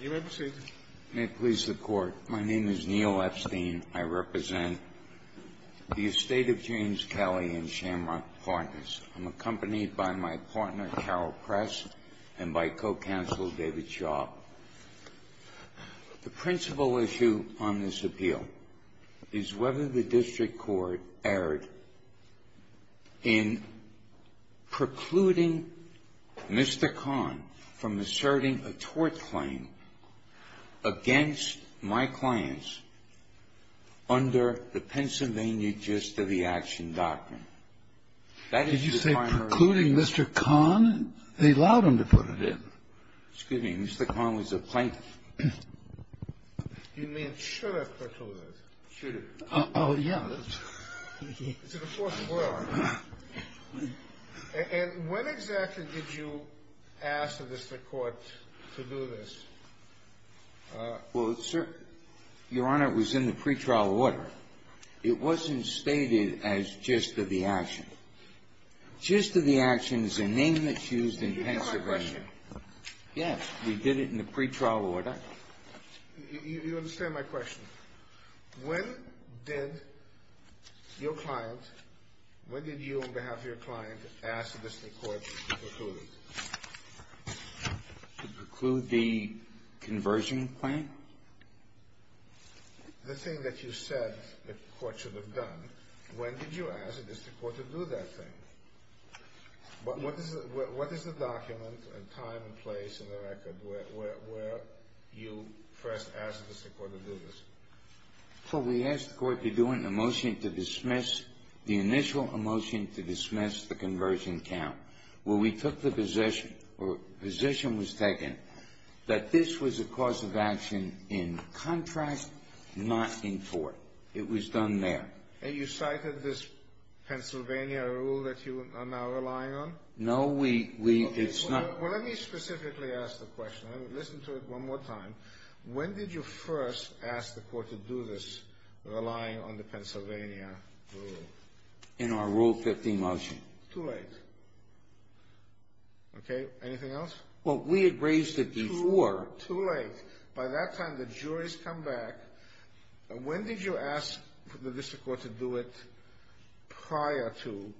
May it please the Court. My name is Neil Epstein. I represent the estate of James Kelly and Shamrock Partners. I'm accompanied by my partner, Carol Press, and by Co-Counsel David Shaw. The principal issue on this appeal is whether the district court erred in precluding Mr. Kahn from asserting a tort claim against my clients under the Pennsylvania gist of the action doctrine. That is the primary issue. Did you say precluding Mr. Kahn? They allowed him to put it in. Excuse me. Mr. Kahn was a plaintiff. You mean should have put it? Should have. Oh, yeah. And when exactly did you ask the district court to do this? Well, sir, Your Honor, it was in the pretrial order. It wasn't stated as gist of the action. Gist of the action is a name that's used in Pennsylvania. Yes, we did it in the pretrial order. You understand my question. When did your client, when did you on behalf of your client ask the district court to preclude? To preclude the conversion claim? The thing that you said the court should have done, when did you ask the district court to do that thing? What is the document and time and place in the record where you first asked the district court to do this? Well, we asked the court to do it in a motion to dismiss, the initial motion to dismiss the conversion count, where we took the position, or position was taken that this was a cause of action in contract, not in court. It was done there. And you cited this Pennsylvania rule that you are now relying on? No, we, it's not. Well, let me specifically ask the question. Let me listen to it one more time. When did you first ask the court to do this, relying on the Pennsylvania rule? In our Rule 15 motion. Too late. Okay, anything else? Well, we had raised it before. Too late. By that time, the jury's come back. When did you ask the district court to do it prior to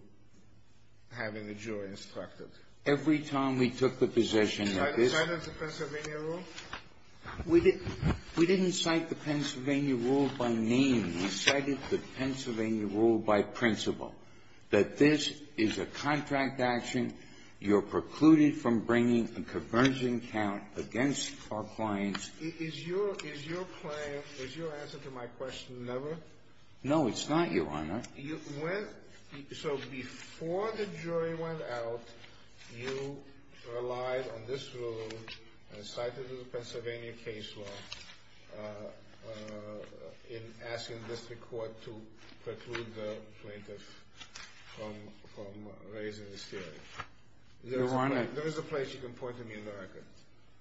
having the jury instructed? Every time we took the position that this – Cited the Pennsylvania rule? We didn't cite the Pennsylvania rule by name. We cited the Pennsylvania rule by principle, that this is a contract action. You're precluded from bringing a conversion count against our clients. Is your claim, is your answer to my question, never? No, it's not, Your Honor. So before the jury went out, you relied on this rule and cited the Pennsylvania case law in asking the district court to preclude the plaintiff from raising this theory. Your Honor – There is a place you can point to me in the record.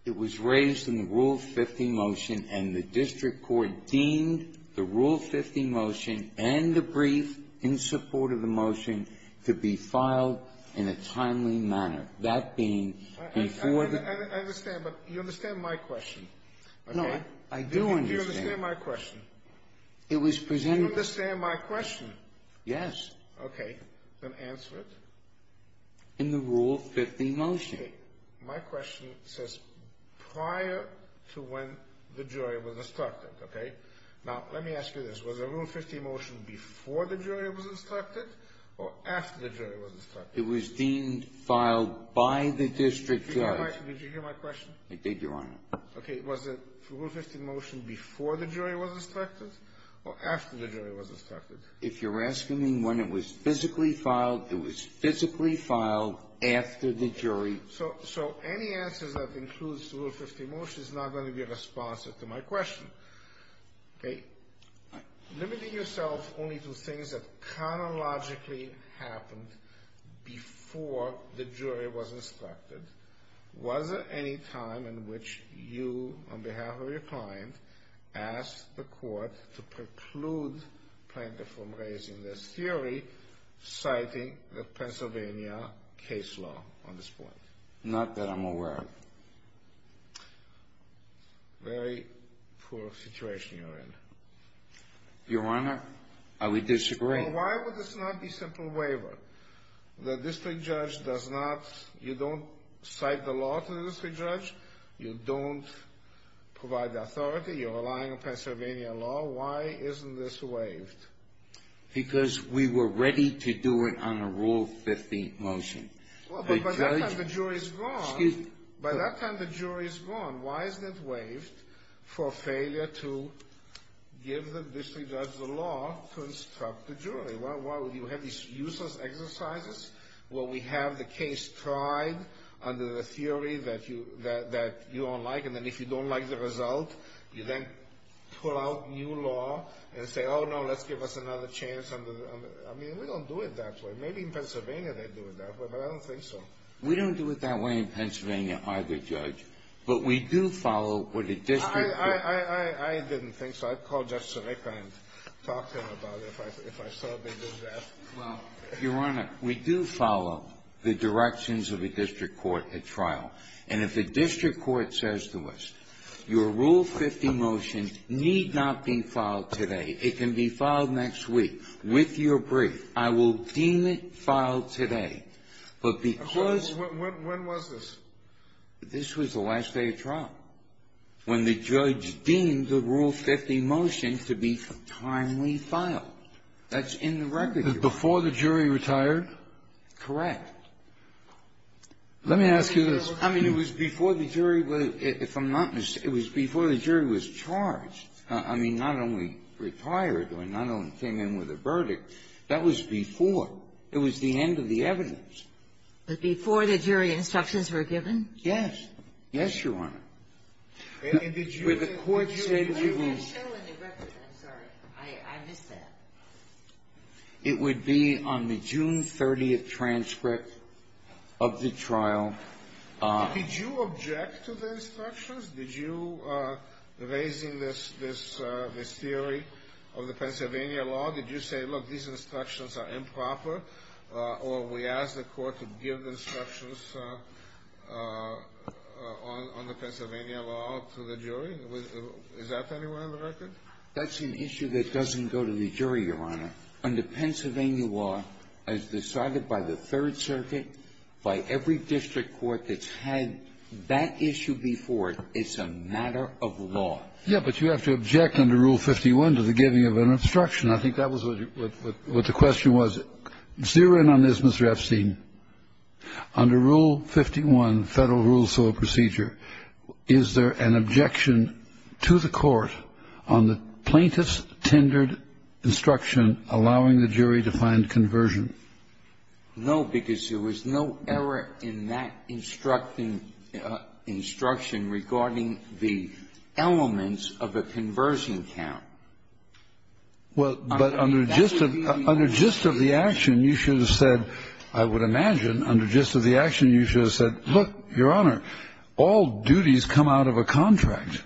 It was raised in the Rule 15 motion, and the district court deemed the Rule 15 motion and the brief in support of the motion to be filed in a timely manner. That being before the – I understand, but you understand my question. No, I do understand. Do you understand my question? It was presented – Do you understand my question? Yes. Okay. Then answer it. In the Rule 15 motion. Okay. My question says prior to when the jury was instructed, okay? Now, let me ask you this. Was the Rule 15 motion before the jury was instructed or after the jury was instructed? It was deemed filed by the district judge. Did you hear my question? I did, Your Honor. Okay. Was the Rule 15 motion before the jury was instructed or after the jury was instructed? If you're asking me when it was physically filed, it was physically filed after the jury – So any answers that includes the Rule 15 motion is not going to be responsive to my question, okay? Limiting yourself only to things that chronologically happened before the jury was instructed, was there any time in which you, on behalf of your client, asked the court to preclude plaintiff from raising this theory, citing the Pennsylvania case law on this point? Not that I'm aware of. Very poor situation you're in. Your Honor, I would disagree. Well, why would this not be simple waiver? The district judge does not – you don't cite the law to the district judge. You don't provide the authority. You're relying on Pennsylvania law. Why isn't this waived? Because we were ready to do it on a Rule 15 motion. Well, but by that time the jury's gone. Excuse me. By that time the jury's gone, why isn't it waived for failure to give the district judge the law to instruct the jury? Why would you have these useless exercises where we have the case tried under the theory that you don't like, and then if you don't like the result, you then pull out new law and say, oh, no, let's give us another chance. I mean, we don't do it that way. Maybe in Pennsylvania they do it that way, but I don't think so. We don't do it that way in Pennsylvania either, Judge. But we do follow what a district judge – I didn't think so. I'd call Justice Sareka and talk to him about it if I saw they did that. Well, Your Honor, we do follow the directions of a district court at trial. And if a district court says to us, your Rule 15 motion need not be filed today. It can be filed next week with your brief. I will deem it filed today. But because – When was this? This was the last day of trial, when the judge deemed the Rule 15 motion to be timely filed. That's in the record. Before the jury retired? Correct. Let me ask you this. I mean, it was before the jury – if I'm not mistaken, it was before the jury was charged. I mean, not only retired or not only came in with a verdict. That was before. It was the end of the evidence. But before the jury instructions were given? Yes. Yes, Your Honor. And did you – Where the court said it was – Where is that show in the record? I'm sorry. I missed that. It would be on the June 30th transcript of the trial. Did you object to the instructions? Did you – raising this theory of the Pennsylvania law, did you say, look, these instructions are improper? Or we ask the court to give instructions on the Pennsylvania law to the jury? Is that anywhere in the record? That's an issue that doesn't go to the jury, Your Honor. Under Pennsylvania law, as decided by the Third Circuit, by every district court that's had that issue before, it's a matter of law. Yeah, but you have to object under Rule 51 to the giving of an instruction. I think that was what the question was. Zero in on this, Mr. Epstein. Under Rule 51, Federal Rules of Procedure, is there an objection to the court on the plaintiff's tendered instruction allowing the jury to find conversion? No, because there was no error in that instructing – instruction regarding the elements of a conversion count. Well, but under gist of the action, you should have said, I would imagine, under gist of the action, you should have said, look, Your Honor, all duties come out of a contract.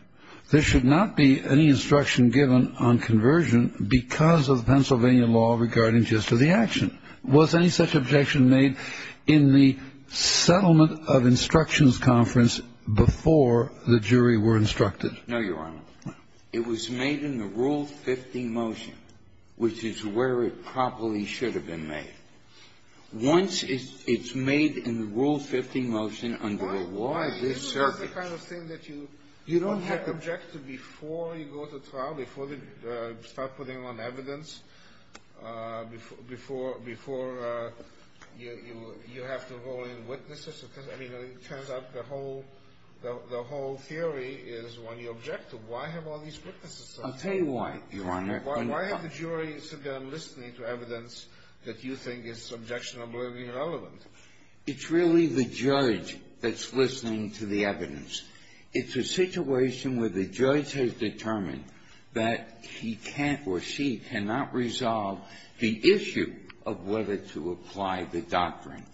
There should not be any instruction given on conversion because of the Pennsylvania law regarding gist of the action. Was any such objection made in the settlement of instructions conference before the jury were instructed? No, Your Honor. No. It was made in the Rule 50 motion, which is where it probably should have been made. Once it's made in the Rule 50 motion under the law, the circuit – Well, you know, that's the kind of thing that you don't have to object to before you go to trial, before they start putting on evidence, before – before you have to roll in witnesses. I mean, it turns out the whole – the whole theory is one you object to. Why have all these witnesses? I'll tell you why, Your Honor. Why have the jury sit down listening to evidence that you think is subjectionably irrelevant? It's a situation where the judge has determined that he can't or she cannot resolve the issue of whether to apply the doctrine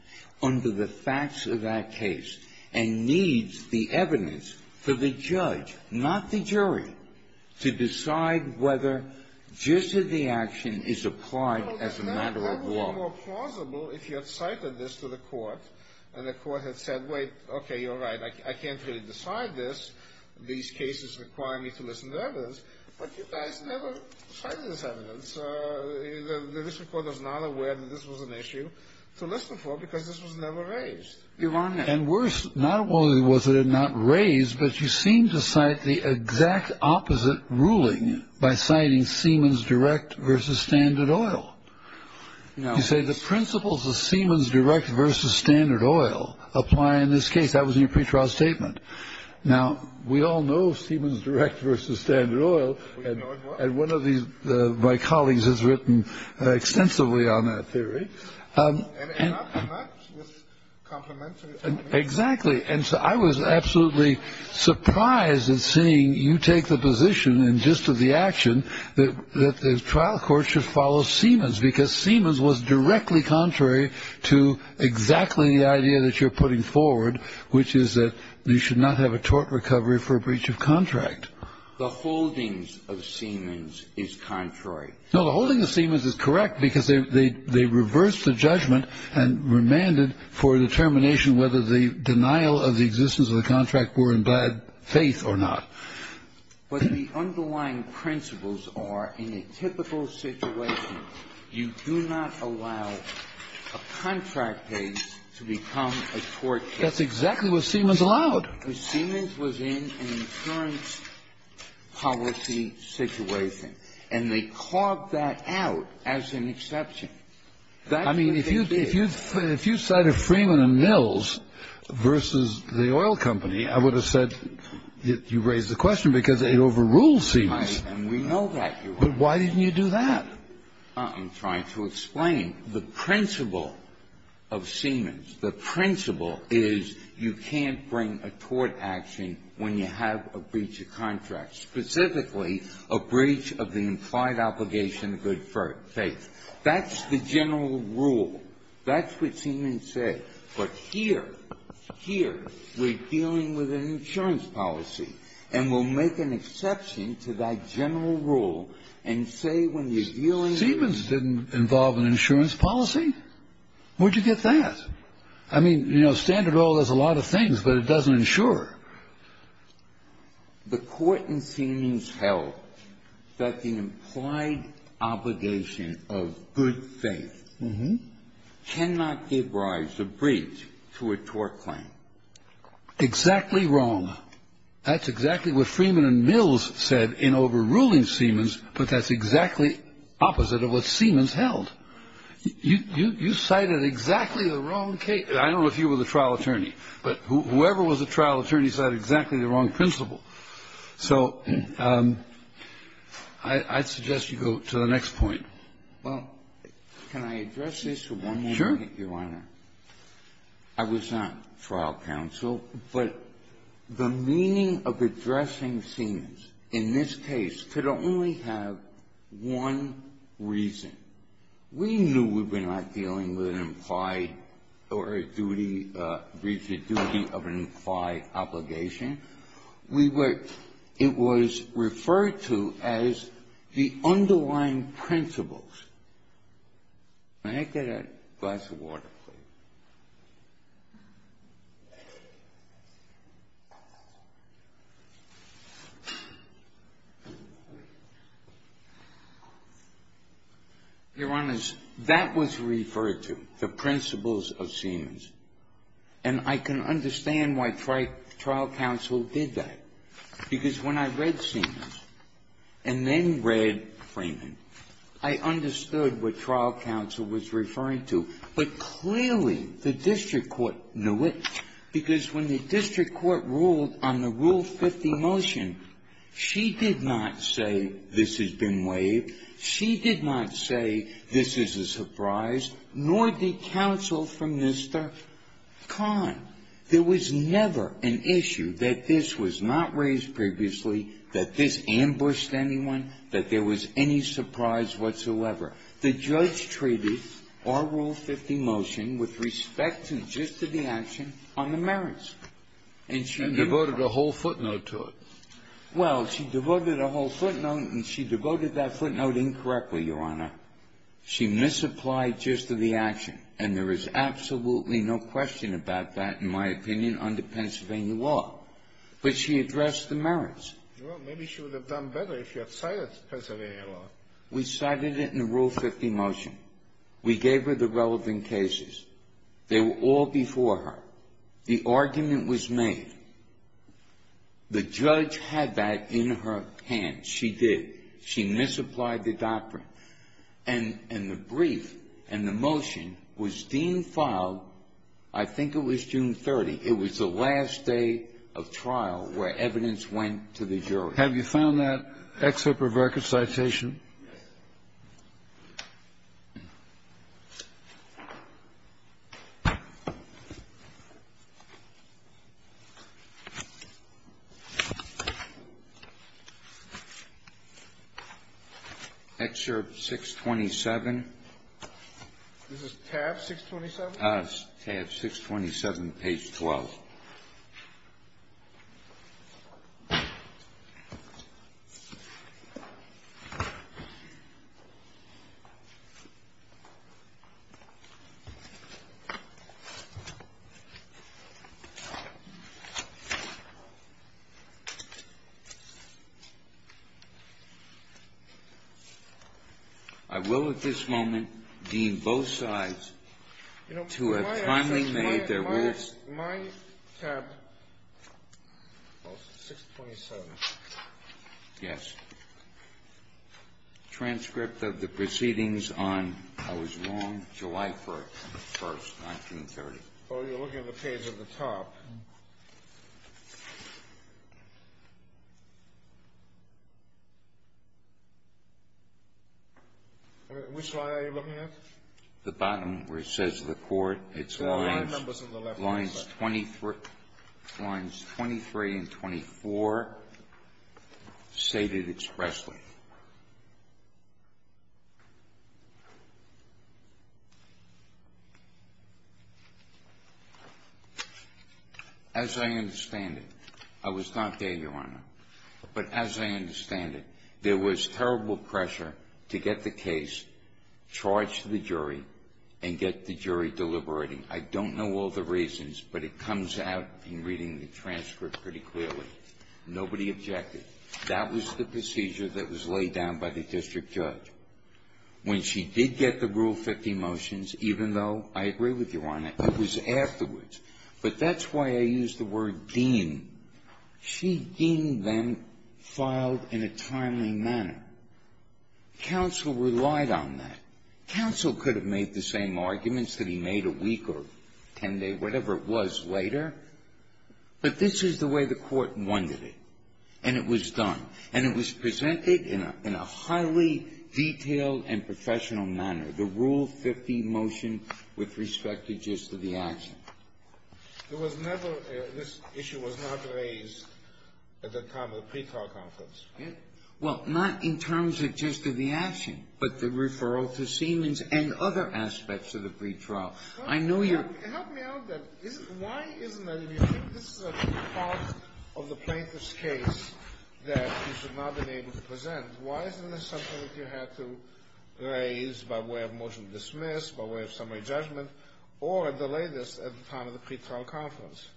under the facts of that case and needs the evidence for the judge, not the jury, to decide whether gist of the action is applied as a matter of law. It would have been far more plausible if you had cited this to the court and the court had said, wait, okay, you're right, I can't really decide this. These cases require me to listen to evidence. But you guys never cited this evidence. The district court was not aware that this was an issue to listen for because this was never raised. Your Honor – And worse, not only was it not raised, but you seemed to cite the exact opposite ruling by citing Siemens Direct versus Standard Oil. You say the principles of Siemens Direct versus Standard Oil apply in this case. That was in your pretrial statement. Now, we all know Siemens Direct versus Standard Oil. And one of my colleagues has written extensively on that theory. And not with complimentary evidence. Exactly. And so I was absolutely surprised in seeing you take the position in gist of the action that the trial court should follow Siemens because Siemens was directly contrary to exactly the idea that you're putting forward, which is that you should not have a tort recovery for a breach of contract. The holdings of Siemens is contrary. No, the holdings of Siemens is correct because they reversed the judgment and remanded for determination whether the denial of the existence of the contract were in bad faith or not. But the underlying principles are, in a typical situation, you do not allow a contract case to become a tort case. That's exactly what Siemens allowed. Because Siemens was in an insurance policy situation. And they carved that out as an exception. That's what they did. I mean, if you cited Freeman & Mills versus the oil company, I would have said you raised the question because it overruled Siemens. Right. And we know that, Your Honor. I'm trying to explain. The principle of Siemens, the principle is you can't bring a tort action when you have a breach of contract, specifically a breach of the implied obligation of good faith. That's the general rule. That's what Siemens said. But here, here, we're dealing with an insurance policy. And we'll make an exception to that general rule and say when you're dealing with an insurance policy, where'd you get that? I mean, you know, standard oil does a lot of things, but it doesn't insure. The court in Siemens held that the implied obligation of good faith cannot give rise to a breach to a tort claim. Exactly wrong. That's exactly what Freeman & Mills said in overruling Siemens. But that's exactly opposite of what Siemens held. You cited exactly the wrong case. I don't know if you were the trial attorney. But whoever was the trial attorney cited exactly the wrong principle. So I'd suggest you go to the next point. Well, can I address this for one more minute, Your Honor? Sure. I was not trial counsel. But the meaning of addressing Siemens in this case could only have one reason. We knew we were not dealing with an implied or a duty of an implied obligation. It was referred to as the underlying principles. May I get a glass of water, please? Your Honors, that was referred to, the principles of Siemens. And I can understand why trial counsel did that. Because when I read Siemens and then read Freeman, I understood what trial counsel was referring to. But clearly the district court knew it, because when the district court ruled on the Rule 50 motion, she did not say, this has been waived. She did not say, this is a surprise. Nor did counsel from Mr. Kahn. There was never an issue that this was not raised previously, that this ambushed anyone, that there was any surprise whatsoever. The judge treated our Rule 50 motion with respect to the gist of the action on the merits. And she devoted a whole footnote to it. Well, she devoted a whole footnote, and she devoted that footnote incorrectly, Your Honor. She misapplied gist of the action. And there is absolutely no question about that, in my opinion, under Pennsylvania law. But she addressed the merits. Well, maybe she would have done better if she had cited Pennsylvania law. We cited it in the Rule 50 motion. We gave her the relevant cases. They were all before her. The argument was made. The judge had that in her hands. She did. She misapplied the doctrine. And the brief and the motion was deemed filed, I think it was June 30th. It was the last day of trial where evidence went to the jury. Have you found that excerpt of record citation? Excerpt 627. This is tab 627? Tab 627, page 12. I will at this moment deem both sides to have kindly made their rules. Is my tab 627? Yes. Transcript of the proceedings on, I was wrong, July 1st, 1930. Oh, you're looking at the page at the top. Which line are you looking at? The bottom where it says the court. It's lines 23 and 24 stated expressly. As I understand it, I was not there, Your Honor, but as I understand it, there was terrible pressure to get the case charged to the jury and get the jury deliberating. I don't know all the reasons, but it comes out in reading the transcript pretty clearly. Nobody objected. That was the procedure that was laid down by the district judge. When she did get the Rule 50 motions, even though I agree with you, Your Honor, it was afterwards. But that's why I used the word deemed. She deemed them filed in a timely manner. Counsel relied on that. Counsel could have made the same arguments that he made a week or 10 days, whatever it was later. But this is the way the court wanted it, and it was done. And it was presented in a highly detailed and professional manner, the Rule 50 motion with respect to just the action. There was never, this issue was not raised at the time of the pre-trial conference. Well, not in terms of just of the action, but the referral to Siemens and other aspects of the pre-trial. I know you're Help me out then. Why isn't that, if you think this is a part of the plaintiff's case that you should not have been able to present, why isn't this something that you had to raise by way of summary judgment, or at the latest, at the time of the pre-trial conference?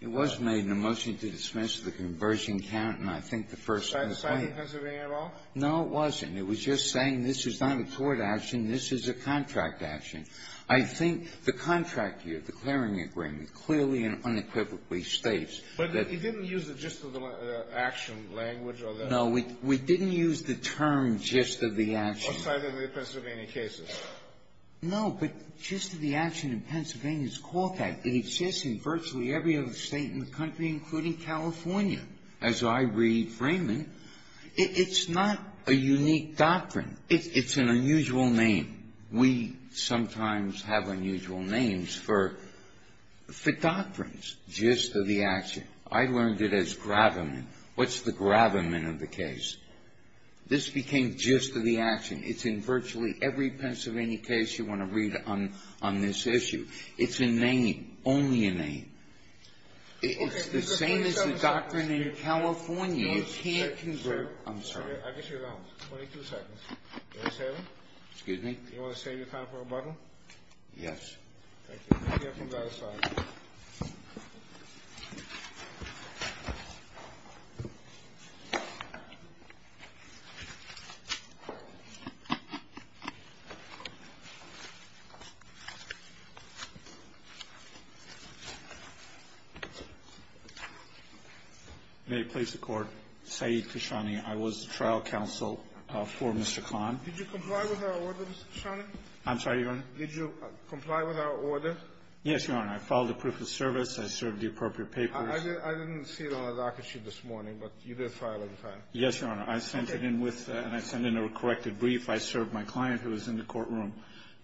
It was made in a motion to dismiss the conversion count, and I think the first Side of Pennsylvania at all? No, it wasn't. It was just saying this is not a court action, this is a contract action. I think the contract here, the clearing agreement, clearly and unequivocally states that But you didn't use the just of the action language or the No, we didn't use the term just of the action Outside of the Pennsylvania cases? No, but just of the action in Pennsylvania is called that. It exists in virtually every other state in the country, including California. As I re-frame it, it's not a unique doctrine. It's an unusual name. We sometimes have unusual names for doctrines. Just of the action. I learned it as gravamen. What's the gravamen of the case? This became just of the action. It's in virtually every Pennsylvania case you want to read on this issue. It's a name, only a name. It's the same as the doctrine in California. You can't convert I'm sorry. I guess you're wrong. 22 seconds. Do you want to save him? Excuse me? Do you want to save your time for a bottle? Yes. Thank you. You may have him by his side. May it please the Court. Sayeed Khashoggi, I was the trial counsel for Mr. Kahn. Did you comply with our order, Mr. Khashoggi? I'm sorry, Your Honor? Did you comply with our order? Yes, Your Honor. I filed a proof of service. I served the appropriate papers. I didn't see it on the docket sheet this morning, but you did file it in time. Yes, Your Honor. I sent it in with and I sent in a corrected brief. I served my client who was in the courtroom.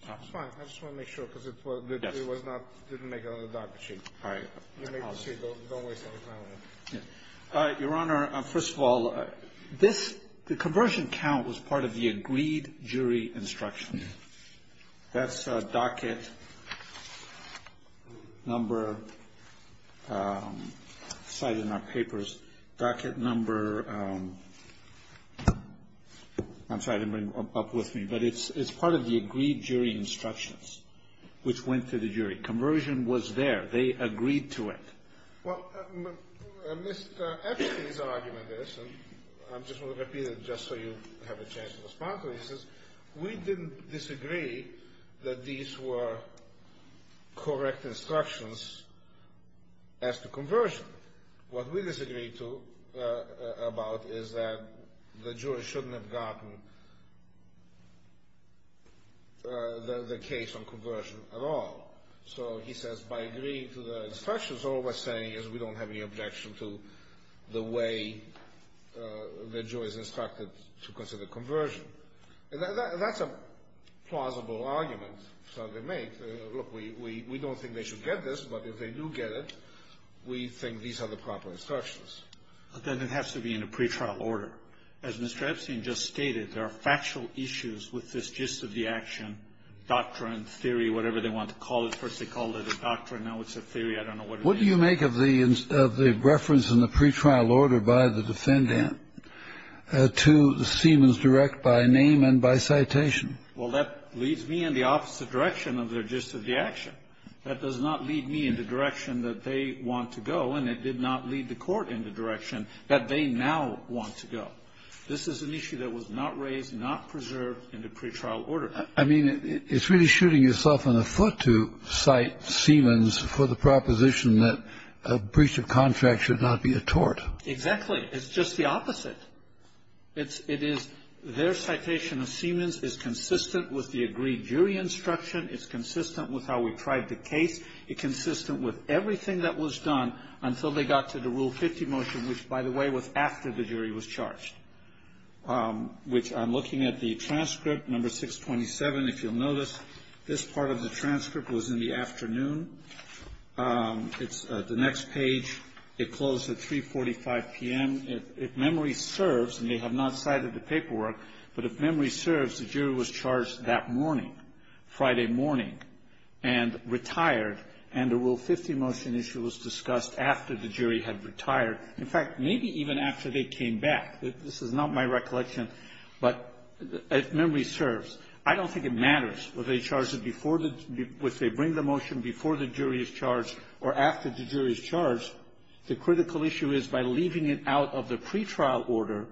It's fine. I just want to make sure because it was not, didn't make it on the docket sheet. All right. You may proceed. Don't waste any time on me. All right. Your Honor, first of all, this, the conversion count was part of the agreed jury instruction. That's docket number cited in our papers. Docket number, I'm sorry to bring it up with me, but it's part of the agreed jury instructions which went to the jury. Conversion was there. They agreed to it. Well, Mr. Epstein's argument is, and I'm just going to repeat it just so you have a chance to respond to this, is we didn't disagree that these were correct instructions as to conversion. What we disagreed about is that the jury shouldn't have gotten the case on conversion at all. So he says by agreeing to the instructions, all we're saying is we don't have any objection to the way the jury is instructed to consider conversion. That's a plausible argument. Look, we don't think they should get this, but if they do get it, we think these are the proper instructions. But then it has to be in a pretrial order. As Mr. Epstein just stated, there are factual issues with this gist of the action, doctrine, theory, whatever they want to call it. First they called it a doctrine. Now it's a theory. I don't know what it means. What do you make of the reference in the pretrial order by the defendant to the Siemens direct by name and by citation? Well, that leads me in the opposite direction of their gist of the action. That does not lead me in the direction that they want to go, and it did not lead the court in the direction that they now want to go. This is an issue that was not raised, not preserved in the pretrial order. I mean, it's really shooting yourself in the foot to cite Siemens for the proposition that a breach of contract should not be a tort. Exactly. It's just the opposite. It is their citation of Siemens is consistent with the agreed jury instruction. It's consistent with how we tried the case. It's consistent with everything that was done until they got to the Rule 50 motion, which, by the way, was after the jury was charged, which I'm looking at the transcript, number 627, if you'll notice. This part of the transcript was in the afternoon. It's the next page. It closed at 3.45 p.m. If memory serves, and they have not cited the paperwork, but if memory serves, the jury was charged that morning, Friday morning, and retired, and the Rule 50 motion issue was discussed after the jury had retired. In fact, maybe even after they came back. This is not my recollection, but if memory serves, I don't think it matters whether they bring the motion before the jury is charged or after the jury is charged. The critical issue is by leaving it out of the pretrial order,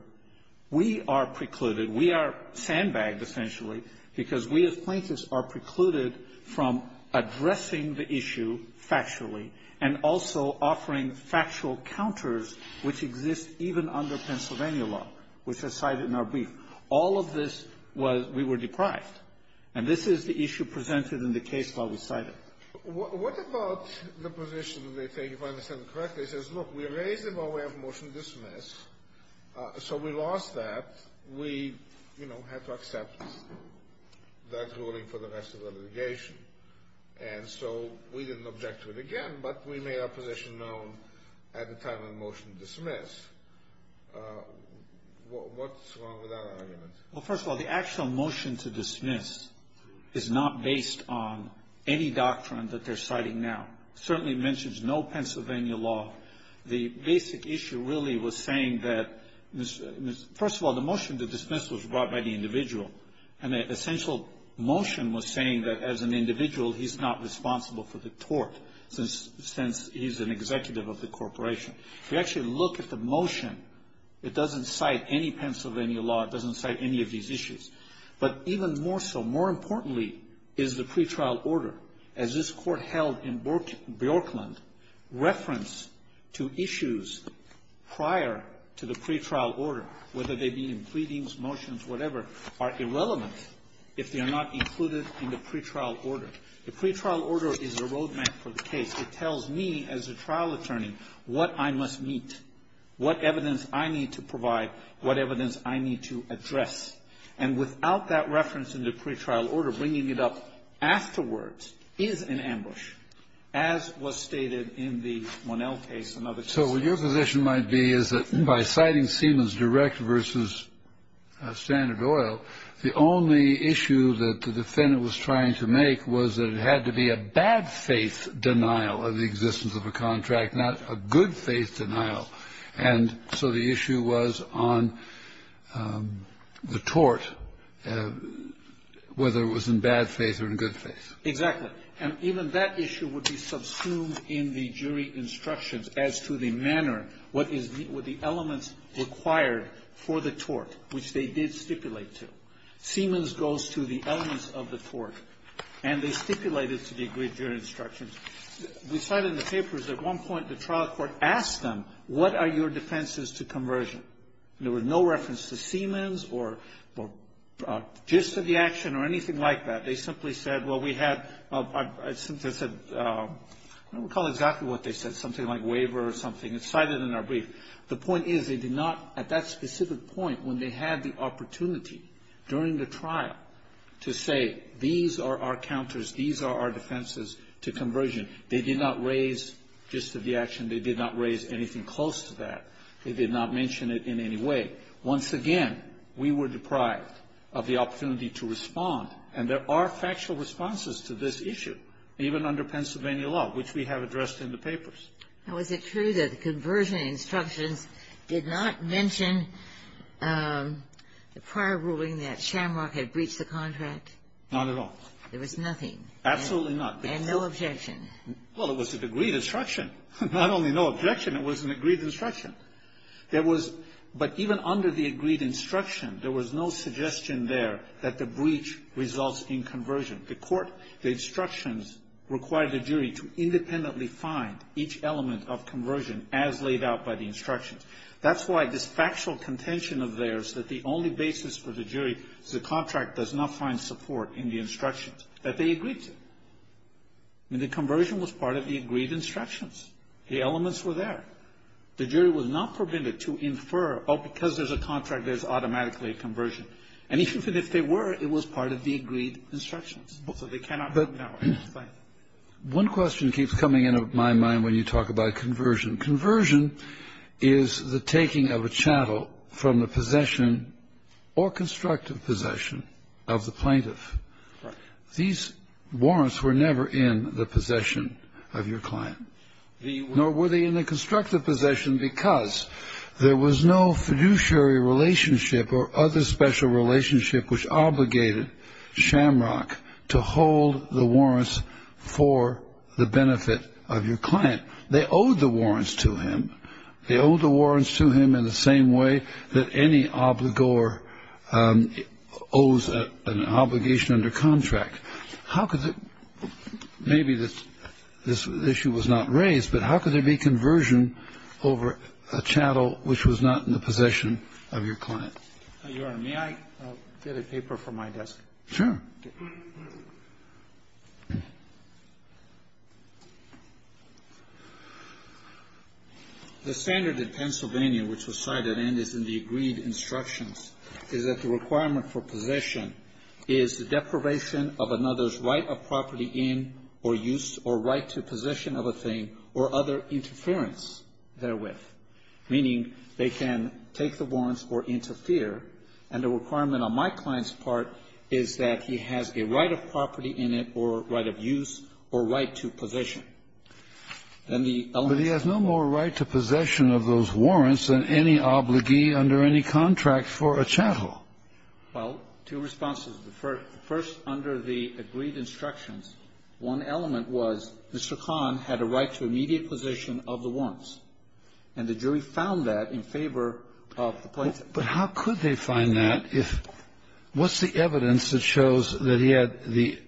we are precluded. We are sandbagged, essentially, because we, as plaintiffs, are precluded from addressing the issue factually and also offering factual counters, which exist even under Pennsylvania law, which are cited in our brief. All of this was we were deprived, and this is the issue presented in the case file we cited. What about the position that they take, if I understand it correctly, says, look, we raised it, but we have a motion to dismiss, so we lost that. We, you know, had to accept that ruling for the rest of the litigation, and so we didn't object to it again, but we made our position known at the time of the motion to dismiss. What's wrong with that argument? Well, first of all, the actual motion to dismiss is not based on any doctrine that they're citing now. It certainly mentions no Pennsylvania law. The basic issue really was saying that, first of all, the motion to dismiss was brought by the individual, and the essential motion was saying that, as an individual, he's not responsible for the tort, since he's an executive of the corporation. If you actually look at the motion, it doesn't cite any Pennsylvania law. It doesn't cite any of these issues. But even more so, more importantly, is the pretrial order. As this court held in Brooklyn, reference to issues prior to the pretrial order, whether they be in pleadings, motions, whatever, are irrelevant if they are not included in the pretrial order. The pretrial order is a road map for the case. It tells me, as a trial attorney, what I must meet, what evidence I need to provide, what evidence I need to address. And without that reference in the pretrial order, bringing it up afterwards is an ambush, as was stated in the Monell case and other cases. So what your position might be is that, by citing Siemens Direct versus Standard Oil, the only issue that the defendant was trying to make was that it had to be a bad-faith denial of the existence of a contract, not a good-faith denial. And so the issue was on the tort, whether it was in bad faith or in good faith. Exactly. And even that issue would be subsumed in the jury instructions as to the manner, what is the elements required for the tort, which they did stipulate to. Siemens goes to the elements of the tort, and they stipulate it to the agreed jury instructions. We cite in the papers, at one point, the trial court asked them, what are your defenses to conversion? And there was no reference to Siemens or gist of the action or anything like that. They simply said, well, we had, I think they said, I don't recall exactly what they said, something like waiver or something. It's cited in our brief. The point is, they did not, at that specific point, when they had the opportunity during the trial to say, these are our counters, these are our defenses to conversion, they did not raise gist of the action. They did not raise anything close to that. They did not mention it in any way. Once again, we were deprived of the opportunity to respond. And there are factual responses to this issue, even under Pennsylvania law, which we have addressed in the papers. Now, is it true that the conversion instructions did not mention the prior ruling that Shamrock had breached the contract? Not at all. There was nothing? Absolutely not. And no objection? Well, it was an agreed instruction. Not only no objection, it was an agreed instruction. There was, but even under the agreed instruction, there was no suggestion there that the breach results in conversion. The court, the instructions required the jury to independently find each element of conversion as laid out by the instructions. That's why this factual contention of theirs that the only basis for the jury is the contract does not find support in the instructions, that they agreed to. I mean, the conversion was part of the agreed instructions. The elements were there. The jury was not prevented to infer, oh, because there's a contract, there's automatically a conversion. And even if they were, it was part of the agreed instructions. So they cannot know. One question keeps coming into my mind when you talk about conversion. Conversion is the taking of a chattel from the possession or constructive possession of the plaintiff. These warrants were never in the possession of your client. Nor were they in the constructive possession because there was no fiduciary relationship or other special relationship which obligated Shamrock to hold the warrants for the benefit of your client. They owed the warrants to him. They owed the warrants to him in the same way that any obligor owes an obligation under contract. How could the – maybe this issue was not raised, but how could there be conversion over a chattel which was not in the possession of your client? Your Honor, may I get a paper from my desk? Sure. The standard in Pennsylvania which was cited and is in the agreed instructions is that the requirement for possession is the deprivation of another's right of property in or use or right to possession of a thing or other interference therewith, meaning they can take the warrants or interfere. And the requirement on my client's part is that he has a right of property in it or right of use or right to possession. But he has no more right to possession of those warrants than any obligee under any contract for a chattel. Well, two responses. First, under the agreed instructions, one element was Mr. Kahn had a right to immediate possession of the warrants. And the jury found that in favor of the plaintiff. But how could they find that if – what's the evidence that shows that he had the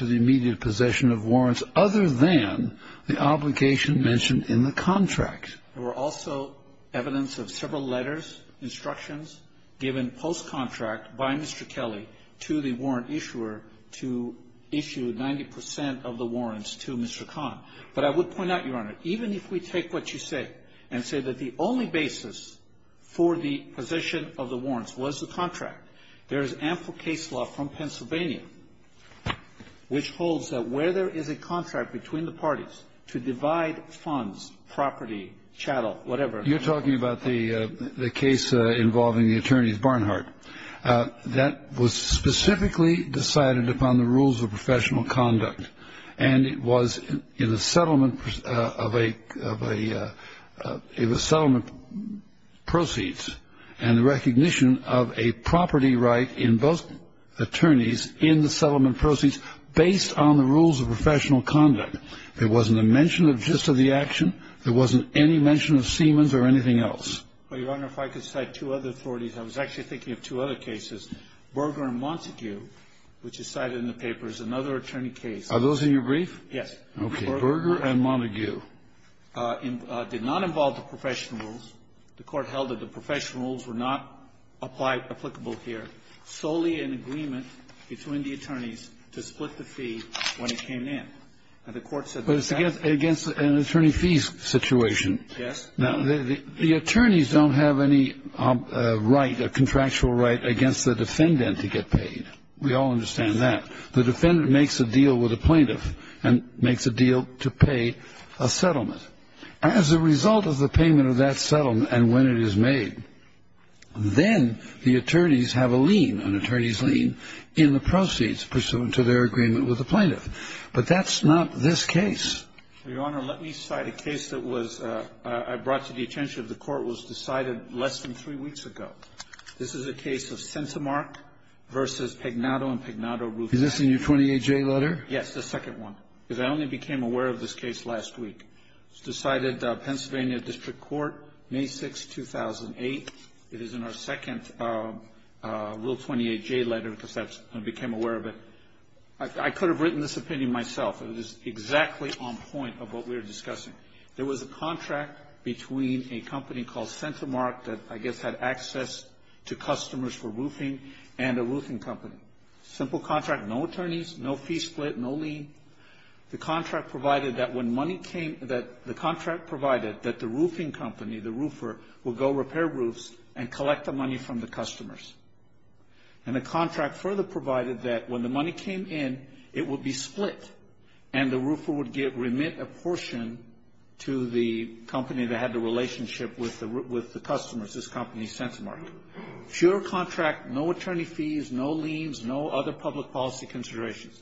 immediate possession of warrants other than the obligation mentioned in the contract? There were also evidence of several letters, instructions given post-contract by Mr. Kelly to the warrant issuer to issue 90 percent of the warrants to Mr. Kahn. But I would point out, Your Honor, even if we take what you say and say that the only basis for the possession of the warrants was the contract, there is ample case law from Pennsylvania which holds that where there is a contract between the parties to divide funds, property, chattel, whatever. You're talking about the case involving the attorneys Barnhart. That was specifically decided upon the rules of professional conduct. And it was in the settlement of a – it was settlement proceeds and the recognition of a property right in both attorneys in the settlement proceeds based on the rules of professional conduct. There wasn't a mention of just of the action. There wasn't any mention of Siemens or anything else. Well, Your Honor, if I could cite two other authorities. I was actually thinking of two other cases. Berger and Montague, which is cited in the paper, is another attorney case. Are those in your brief? Yes. Berger and Montague. Did not involve the professional rules. The court held that the professional rules were not applicable here. Solely an agreement between the attorneys to split the fee when it came in. And the court said that. But it's against an attorney fee situation. Yes. Now, the attorneys don't have any right, a contractual right, against the defendant to get paid. We all understand that. As a result of the payment of that settlement and when it is made, then the attorneys have a lien, an attorney's lien, in the proceeds pursuant to their agreement with the plaintiff. But that's not this case. Your Honor, let me cite a case that was – I brought to the attention of the court was decided less than three weeks ago. This is a case of Centimark v. Pignato and Pignato Rufino. Is this in your 28-J letter? Yes, the second one. Because I only became aware of this case last week. It was decided Pennsylvania District Court, May 6, 2008. It is in our second Rule 28-J letter because I became aware of it. I could have written this opinion myself. It is exactly on point of what we were discussing. There was a contract between a company called Centimark that I guess had access to customers for roofing and a roofing company. Simple contract, no attorneys, no fee split, no lien. The contract provided that when money came – the contract provided that the roofing company, the roofer, would go repair roofs and collect the money from the customers. And the contract further provided that when the money came in, it would be split and the roofer would remit a portion to the company that had the relationship with the customers, this company Centimark. Pure contract, no attorney fees, no liens, no other public policy considerations.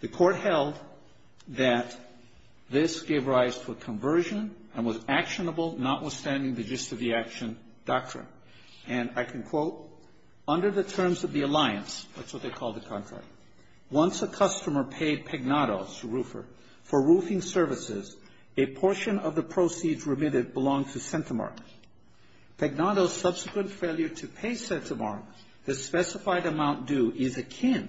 The court held that this gave rise to a conversion and was actionable, notwithstanding the gist of the action doctrine. And I can quote, under the terms of the alliance, that's what they called the contract, once a customer paid Pagnotto, the roofer, for roofing services, a portion of the proceeds remitted belonged to Centimark. Pagnotto's subsequent failure to pay Centimark the specified amount due is akin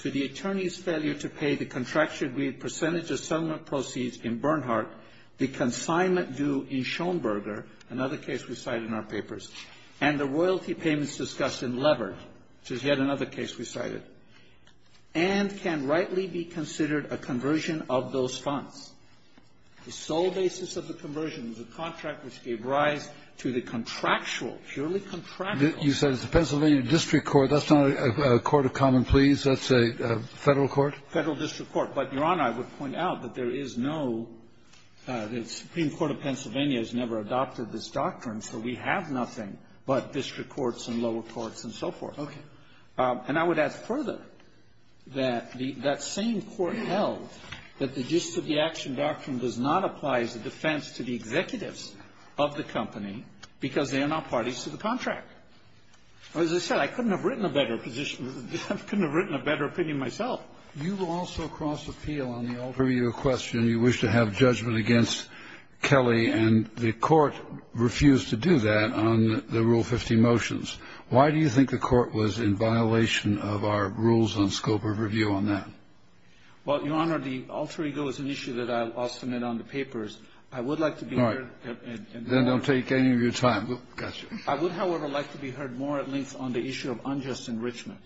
to the attorney's failure to pay the contractually agreed percentage of settlement proceeds in Bernhardt, the consignment due in Schoenberger, another case we cite in our papers, and the royalty payments discussed in Levert, which is yet another case we cited, and can rightly be considered a conversion of those funds. The sole basis of the conversion was a contract which gave rise to the contractual, purely contractual – That's a Federal court? Federal district court. But, Your Honor, I would point out that there is no – the Supreme Court of Pennsylvania has never adopted this doctrine, so we have nothing but district courts and lower courts and so forth. Okay. And I would add further that the – that same court held that the gist of the action doctrine does not apply as a defense to the executives of the company because they are not parties to the contract. As I said, I couldn't have written a better position. I couldn't have written a better opinion myself. You've also crossed the field on the alter ego question. You wish to have judgment against Kelley, and the Court refused to do that on the Rule 50 motions. Why do you think the Court was in violation of our rules on scope of review on that? Well, Your Honor, the alter ego is an issue that I'll submit on the papers. I would like to be clear. All right. Then don't take any of your time. Gotcha. I would, however, like to be heard more at length on the issue of unjust enrichment.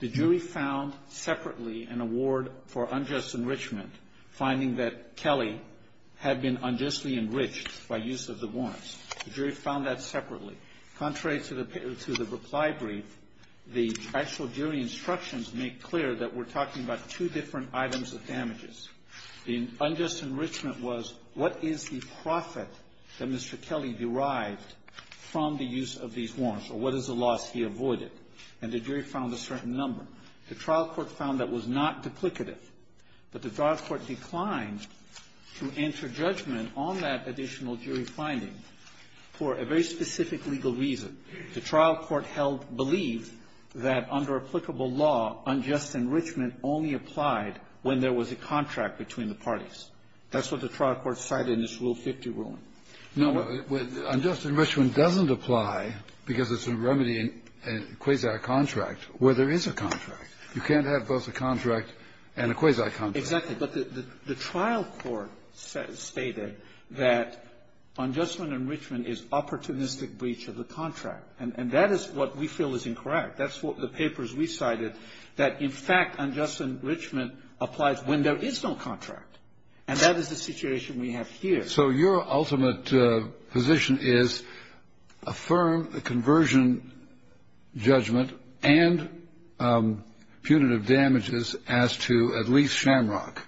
The jury found separately an award for unjust enrichment, finding that Kelley had been unjustly enriched by use of the warrants. The jury found that separately. Contrary to the – to the reply brief, the actual jury instructions make clear that we're talking about two different items of damages. The unjust enrichment was what is the profit that Mr. Kelley derived from the use of these warrants, or what is the loss he avoided. And the jury found a certain number. The trial court found that was not duplicative, but the trial court declined to enter judgment on that additional jury finding for a very specific legal reason. The trial court held – believed that under applicable law, unjust enrichment only applied when there was a contract between the parties. That's what the trial court cited in its Rule 50 ruling. Now, what – No, unjust enrichment doesn't apply because it's a remedy in a quasi-contract where there is a contract. You can't have both a contract and a quasi-contract. Exactly. But the trial court stated that unjust enrichment is opportunistic breach of the contract. And that is what we feel is incorrect. That's what the papers recited, that in fact unjust enrichment applies when there is no contract. And that is the situation we have here. So your ultimate position is affirm the conversion judgment and punitive damages as to at least Shamrock.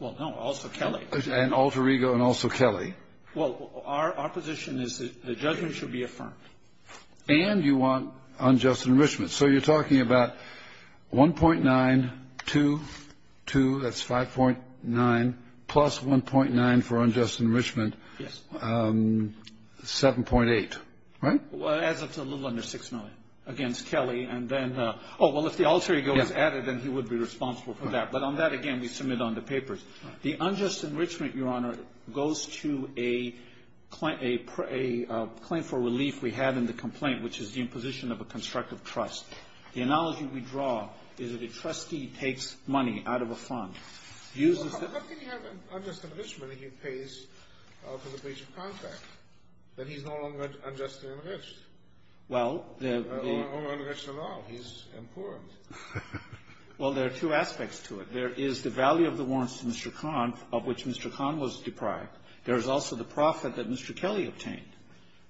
Well, no, also Kelley. And Alter Ego and also Kelley. Well, our position is that the judgment should be affirmed. And you want unjust enrichment. So you're talking about 1.9, 2, 2, that's 5.9, plus 1.9 for unjust enrichment. Yes. 7.8, right? Well, it adds up to a little under 6 million against Kelley. And then – oh, well, if the Alter Ego is added, then he would be responsible for that. But on that, again, we submit on the papers. The unjust enrichment, Your Honor, goes to a claim for relief we had in the complaint, which is the imposition of a constructive trust. The analogy we draw is that a trustee takes money out of a fund, uses the – Well, how can you have unjust enrichment if he pays for the breach of contract, that he's no longer unjustly enriched? Well, the – Or enriched at all. He's impoverished. Well, there are two aspects to it. There is the value of the warrants to Mr. Kahn, of which Mr. Kahn was deprived. There is also the profit that Mr. Kelley obtained.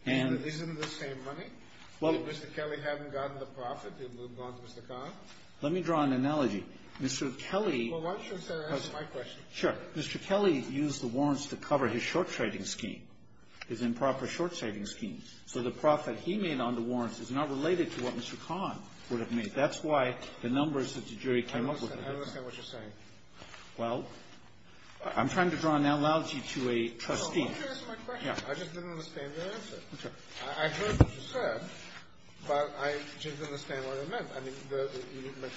And isn't it the same money? If Mr. Kelley hadn't gotten the profit, it would have gone to Mr. Kahn? Let me draw an analogy. Mr. Kelley – Well, why don't you answer my question? Sure. Mr. Kelley used the warrants to cover his short-trading scheme, his improper short-trading scheme. So the profit he made on the warrants is not related to what Mr. Kahn would have made. That's why the numbers that the jury came up with are different. I don't understand what you're saying. Well, I'm trying to draw an analogy to a trustee. No, why don't you answer my question? Yeah. I just didn't understand your answer. Okay. I heard what you said, but I didn't understand what it meant. I mean, the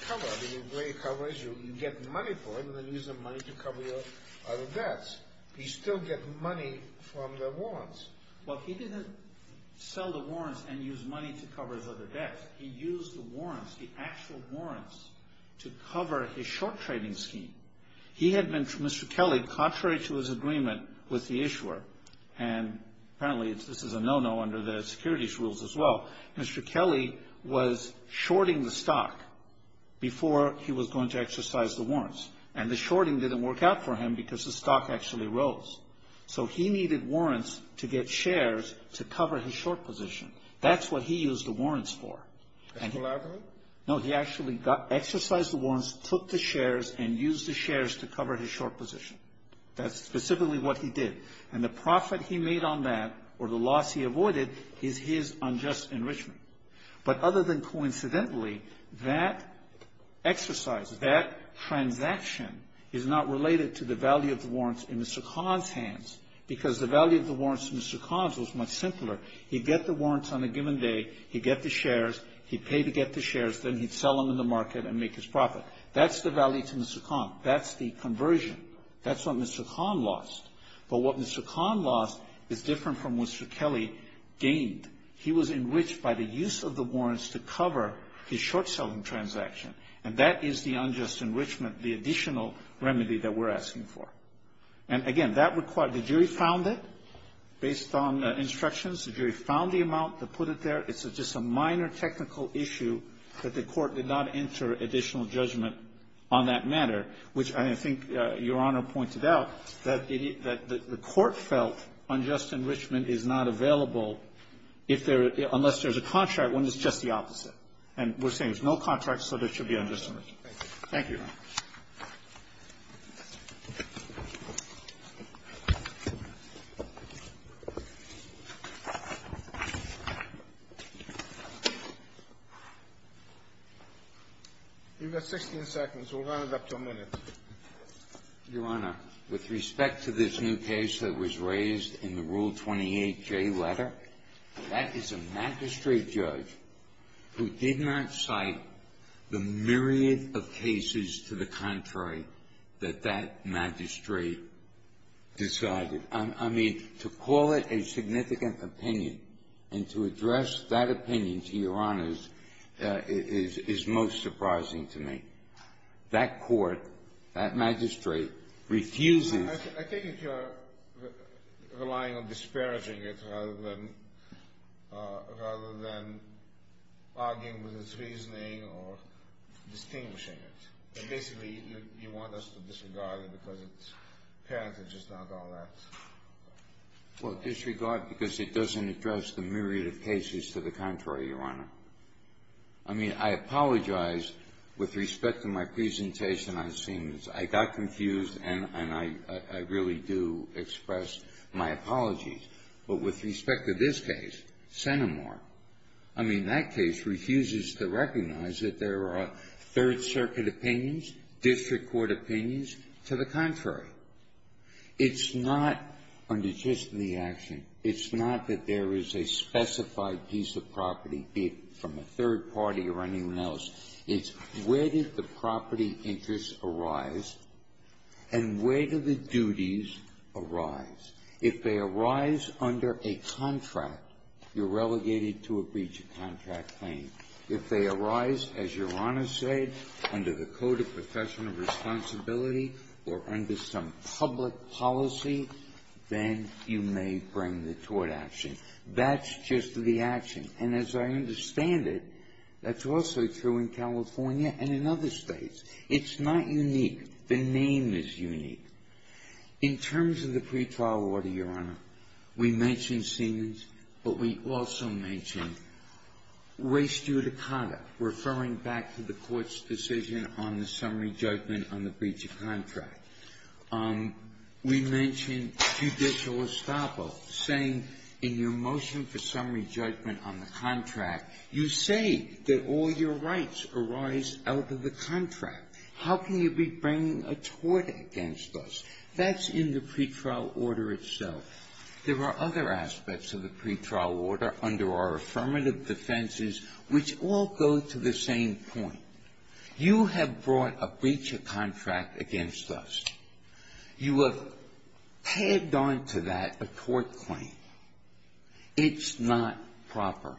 cover, the way he covers, you get money for it and then use the money to cover your other debts. He still gets money from the warrants. Well, he didn't sell the warrants and use money to cover his other debts. He used the warrants, the actual warrants, to cover his short-trading scheme. He had been, Mr. Kelley, contrary to his agreement with the issuer, and apparently this is a no-no under the securities rules as well, Mr. Kelley was shorting the stock before he was going to exercise the warrants. And the shorting didn't work out for him because the stock actually rose. So he needed warrants to get shares to cover his short position. That's what he used the warrants for. Collaborative? No, he actually exercised the warrants, took the shares, and used the shares to cover his short position. That's specifically what he did. And the profit he made on that, or the loss he avoided, is his unjust enrichment. But other than coincidentally, that exercise, that transaction, is not related to the value of the warrants in Mr. Kahn's hands because the value of the warrants in Mr. Kahn's hands is the value of the warrants on a given day. He'd get the shares. He'd pay to get the shares. Then he'd sell them in the market and make his profit. That's the value to Mr. Kahn. That's the conversion. That's what Mr. Kahn lost. But what Mr. Kahn lost is different from what Mr. Kelley gained. He was enriched by the use of the warrants to cover his short-selling transaction, and that is the unjust enrichment, the additional remedy that we're asking for. And, again, that required the jury found it based on instructions. The jury found the amount that put it there. It's just a minor technical issue that the Court did not enter additional judgment on that matter, which I think Your Honor pointed out, that the Court felt unjust enrichment is not available if there are unless there's a contract when it's just the opposite. And we're saying there's no contract, so there should be unjust enrichment. Thank you. Thank you, Your Honor. You've got 16 seconds. We'll round it up to a minute. Your Honor, with respect to this new case that was raised in the Rule 28J letter, that is a magistrate judge who did not cite the myriad of cases to the contrary that that magistrate decided. I mean, to call it a significant opinion and to address that opinion, to Your Honor's, is most surprising to me. That Court, that magistrate, refuses to do that. Rather than arguing with its reasoning or distinguishing it. Basically, you want us to disregard it because apparently it's just not all that. Well, disregard because it doesn't address the myriad of cases to the contrary, Your Honor. I mean, I apologize with respect to my presentation. I've seen this. I got confused, and I really do express my apologies. But with respect to this case, CentiMark, I mean, that case refuses to recognize that there are Third Circuit opinions, district court opinions, to the contrary. It's not under just the action. It's not that there is a specified piece of property, be it from a third party or anyone else. It's where did the property interests arise, and where do the duties arise. If they arise under a contract, you're relegated to a breach of contract claim. If they arise, as Your Honor said, under the Code of Professional Responsibility or under some public policy, then you may bring the tort action. That's just the action. And as I understand it, that's also true in California and in other States. It's not unique. The name is unique. In terms of the pretrial order, Your Honor, we mentioned Siemens, but we also mentioned race due to conduct, referring back to the Court's decision on the summary judgment on the breach of contract. We mentioned judicial estoppel, saying in your motion for summary judgment on the contract, you say that all your rights arise out of the contract. How can you be bringing a tort against us? That's in the pretrial order itself. There are other aspects of the pretrial order under our affirmative defenses which all go to the same point. You have brought a breach of contract against us. You have tagged on to that a tort claim. It's not proper,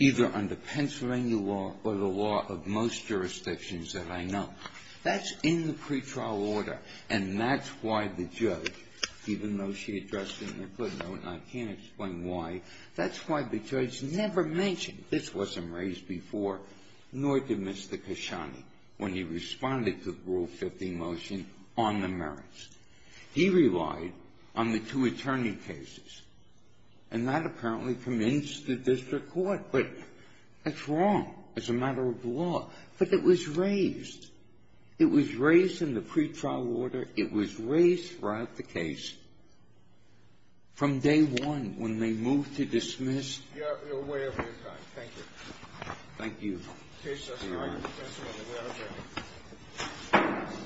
either under Pennsylvania law or the law of most jurisdictions that I know. That's in the pretrial order, and that's why the judge, even though she addressed it in the footnote, and I can't explain why, that's why the judge never mentioned this wasn't raised before, nor did Mr. Kashani when he responded to the Rule 15 motion on the merits. He relied on the two attorney cases, and that apparently convinced the district court, but that's wrong as a matter of law. But it was raised. It was raised in the pretrial order. It was raised throughout the case from day one when they moved to dismiss. You're way over your time. Thank you. Thank you.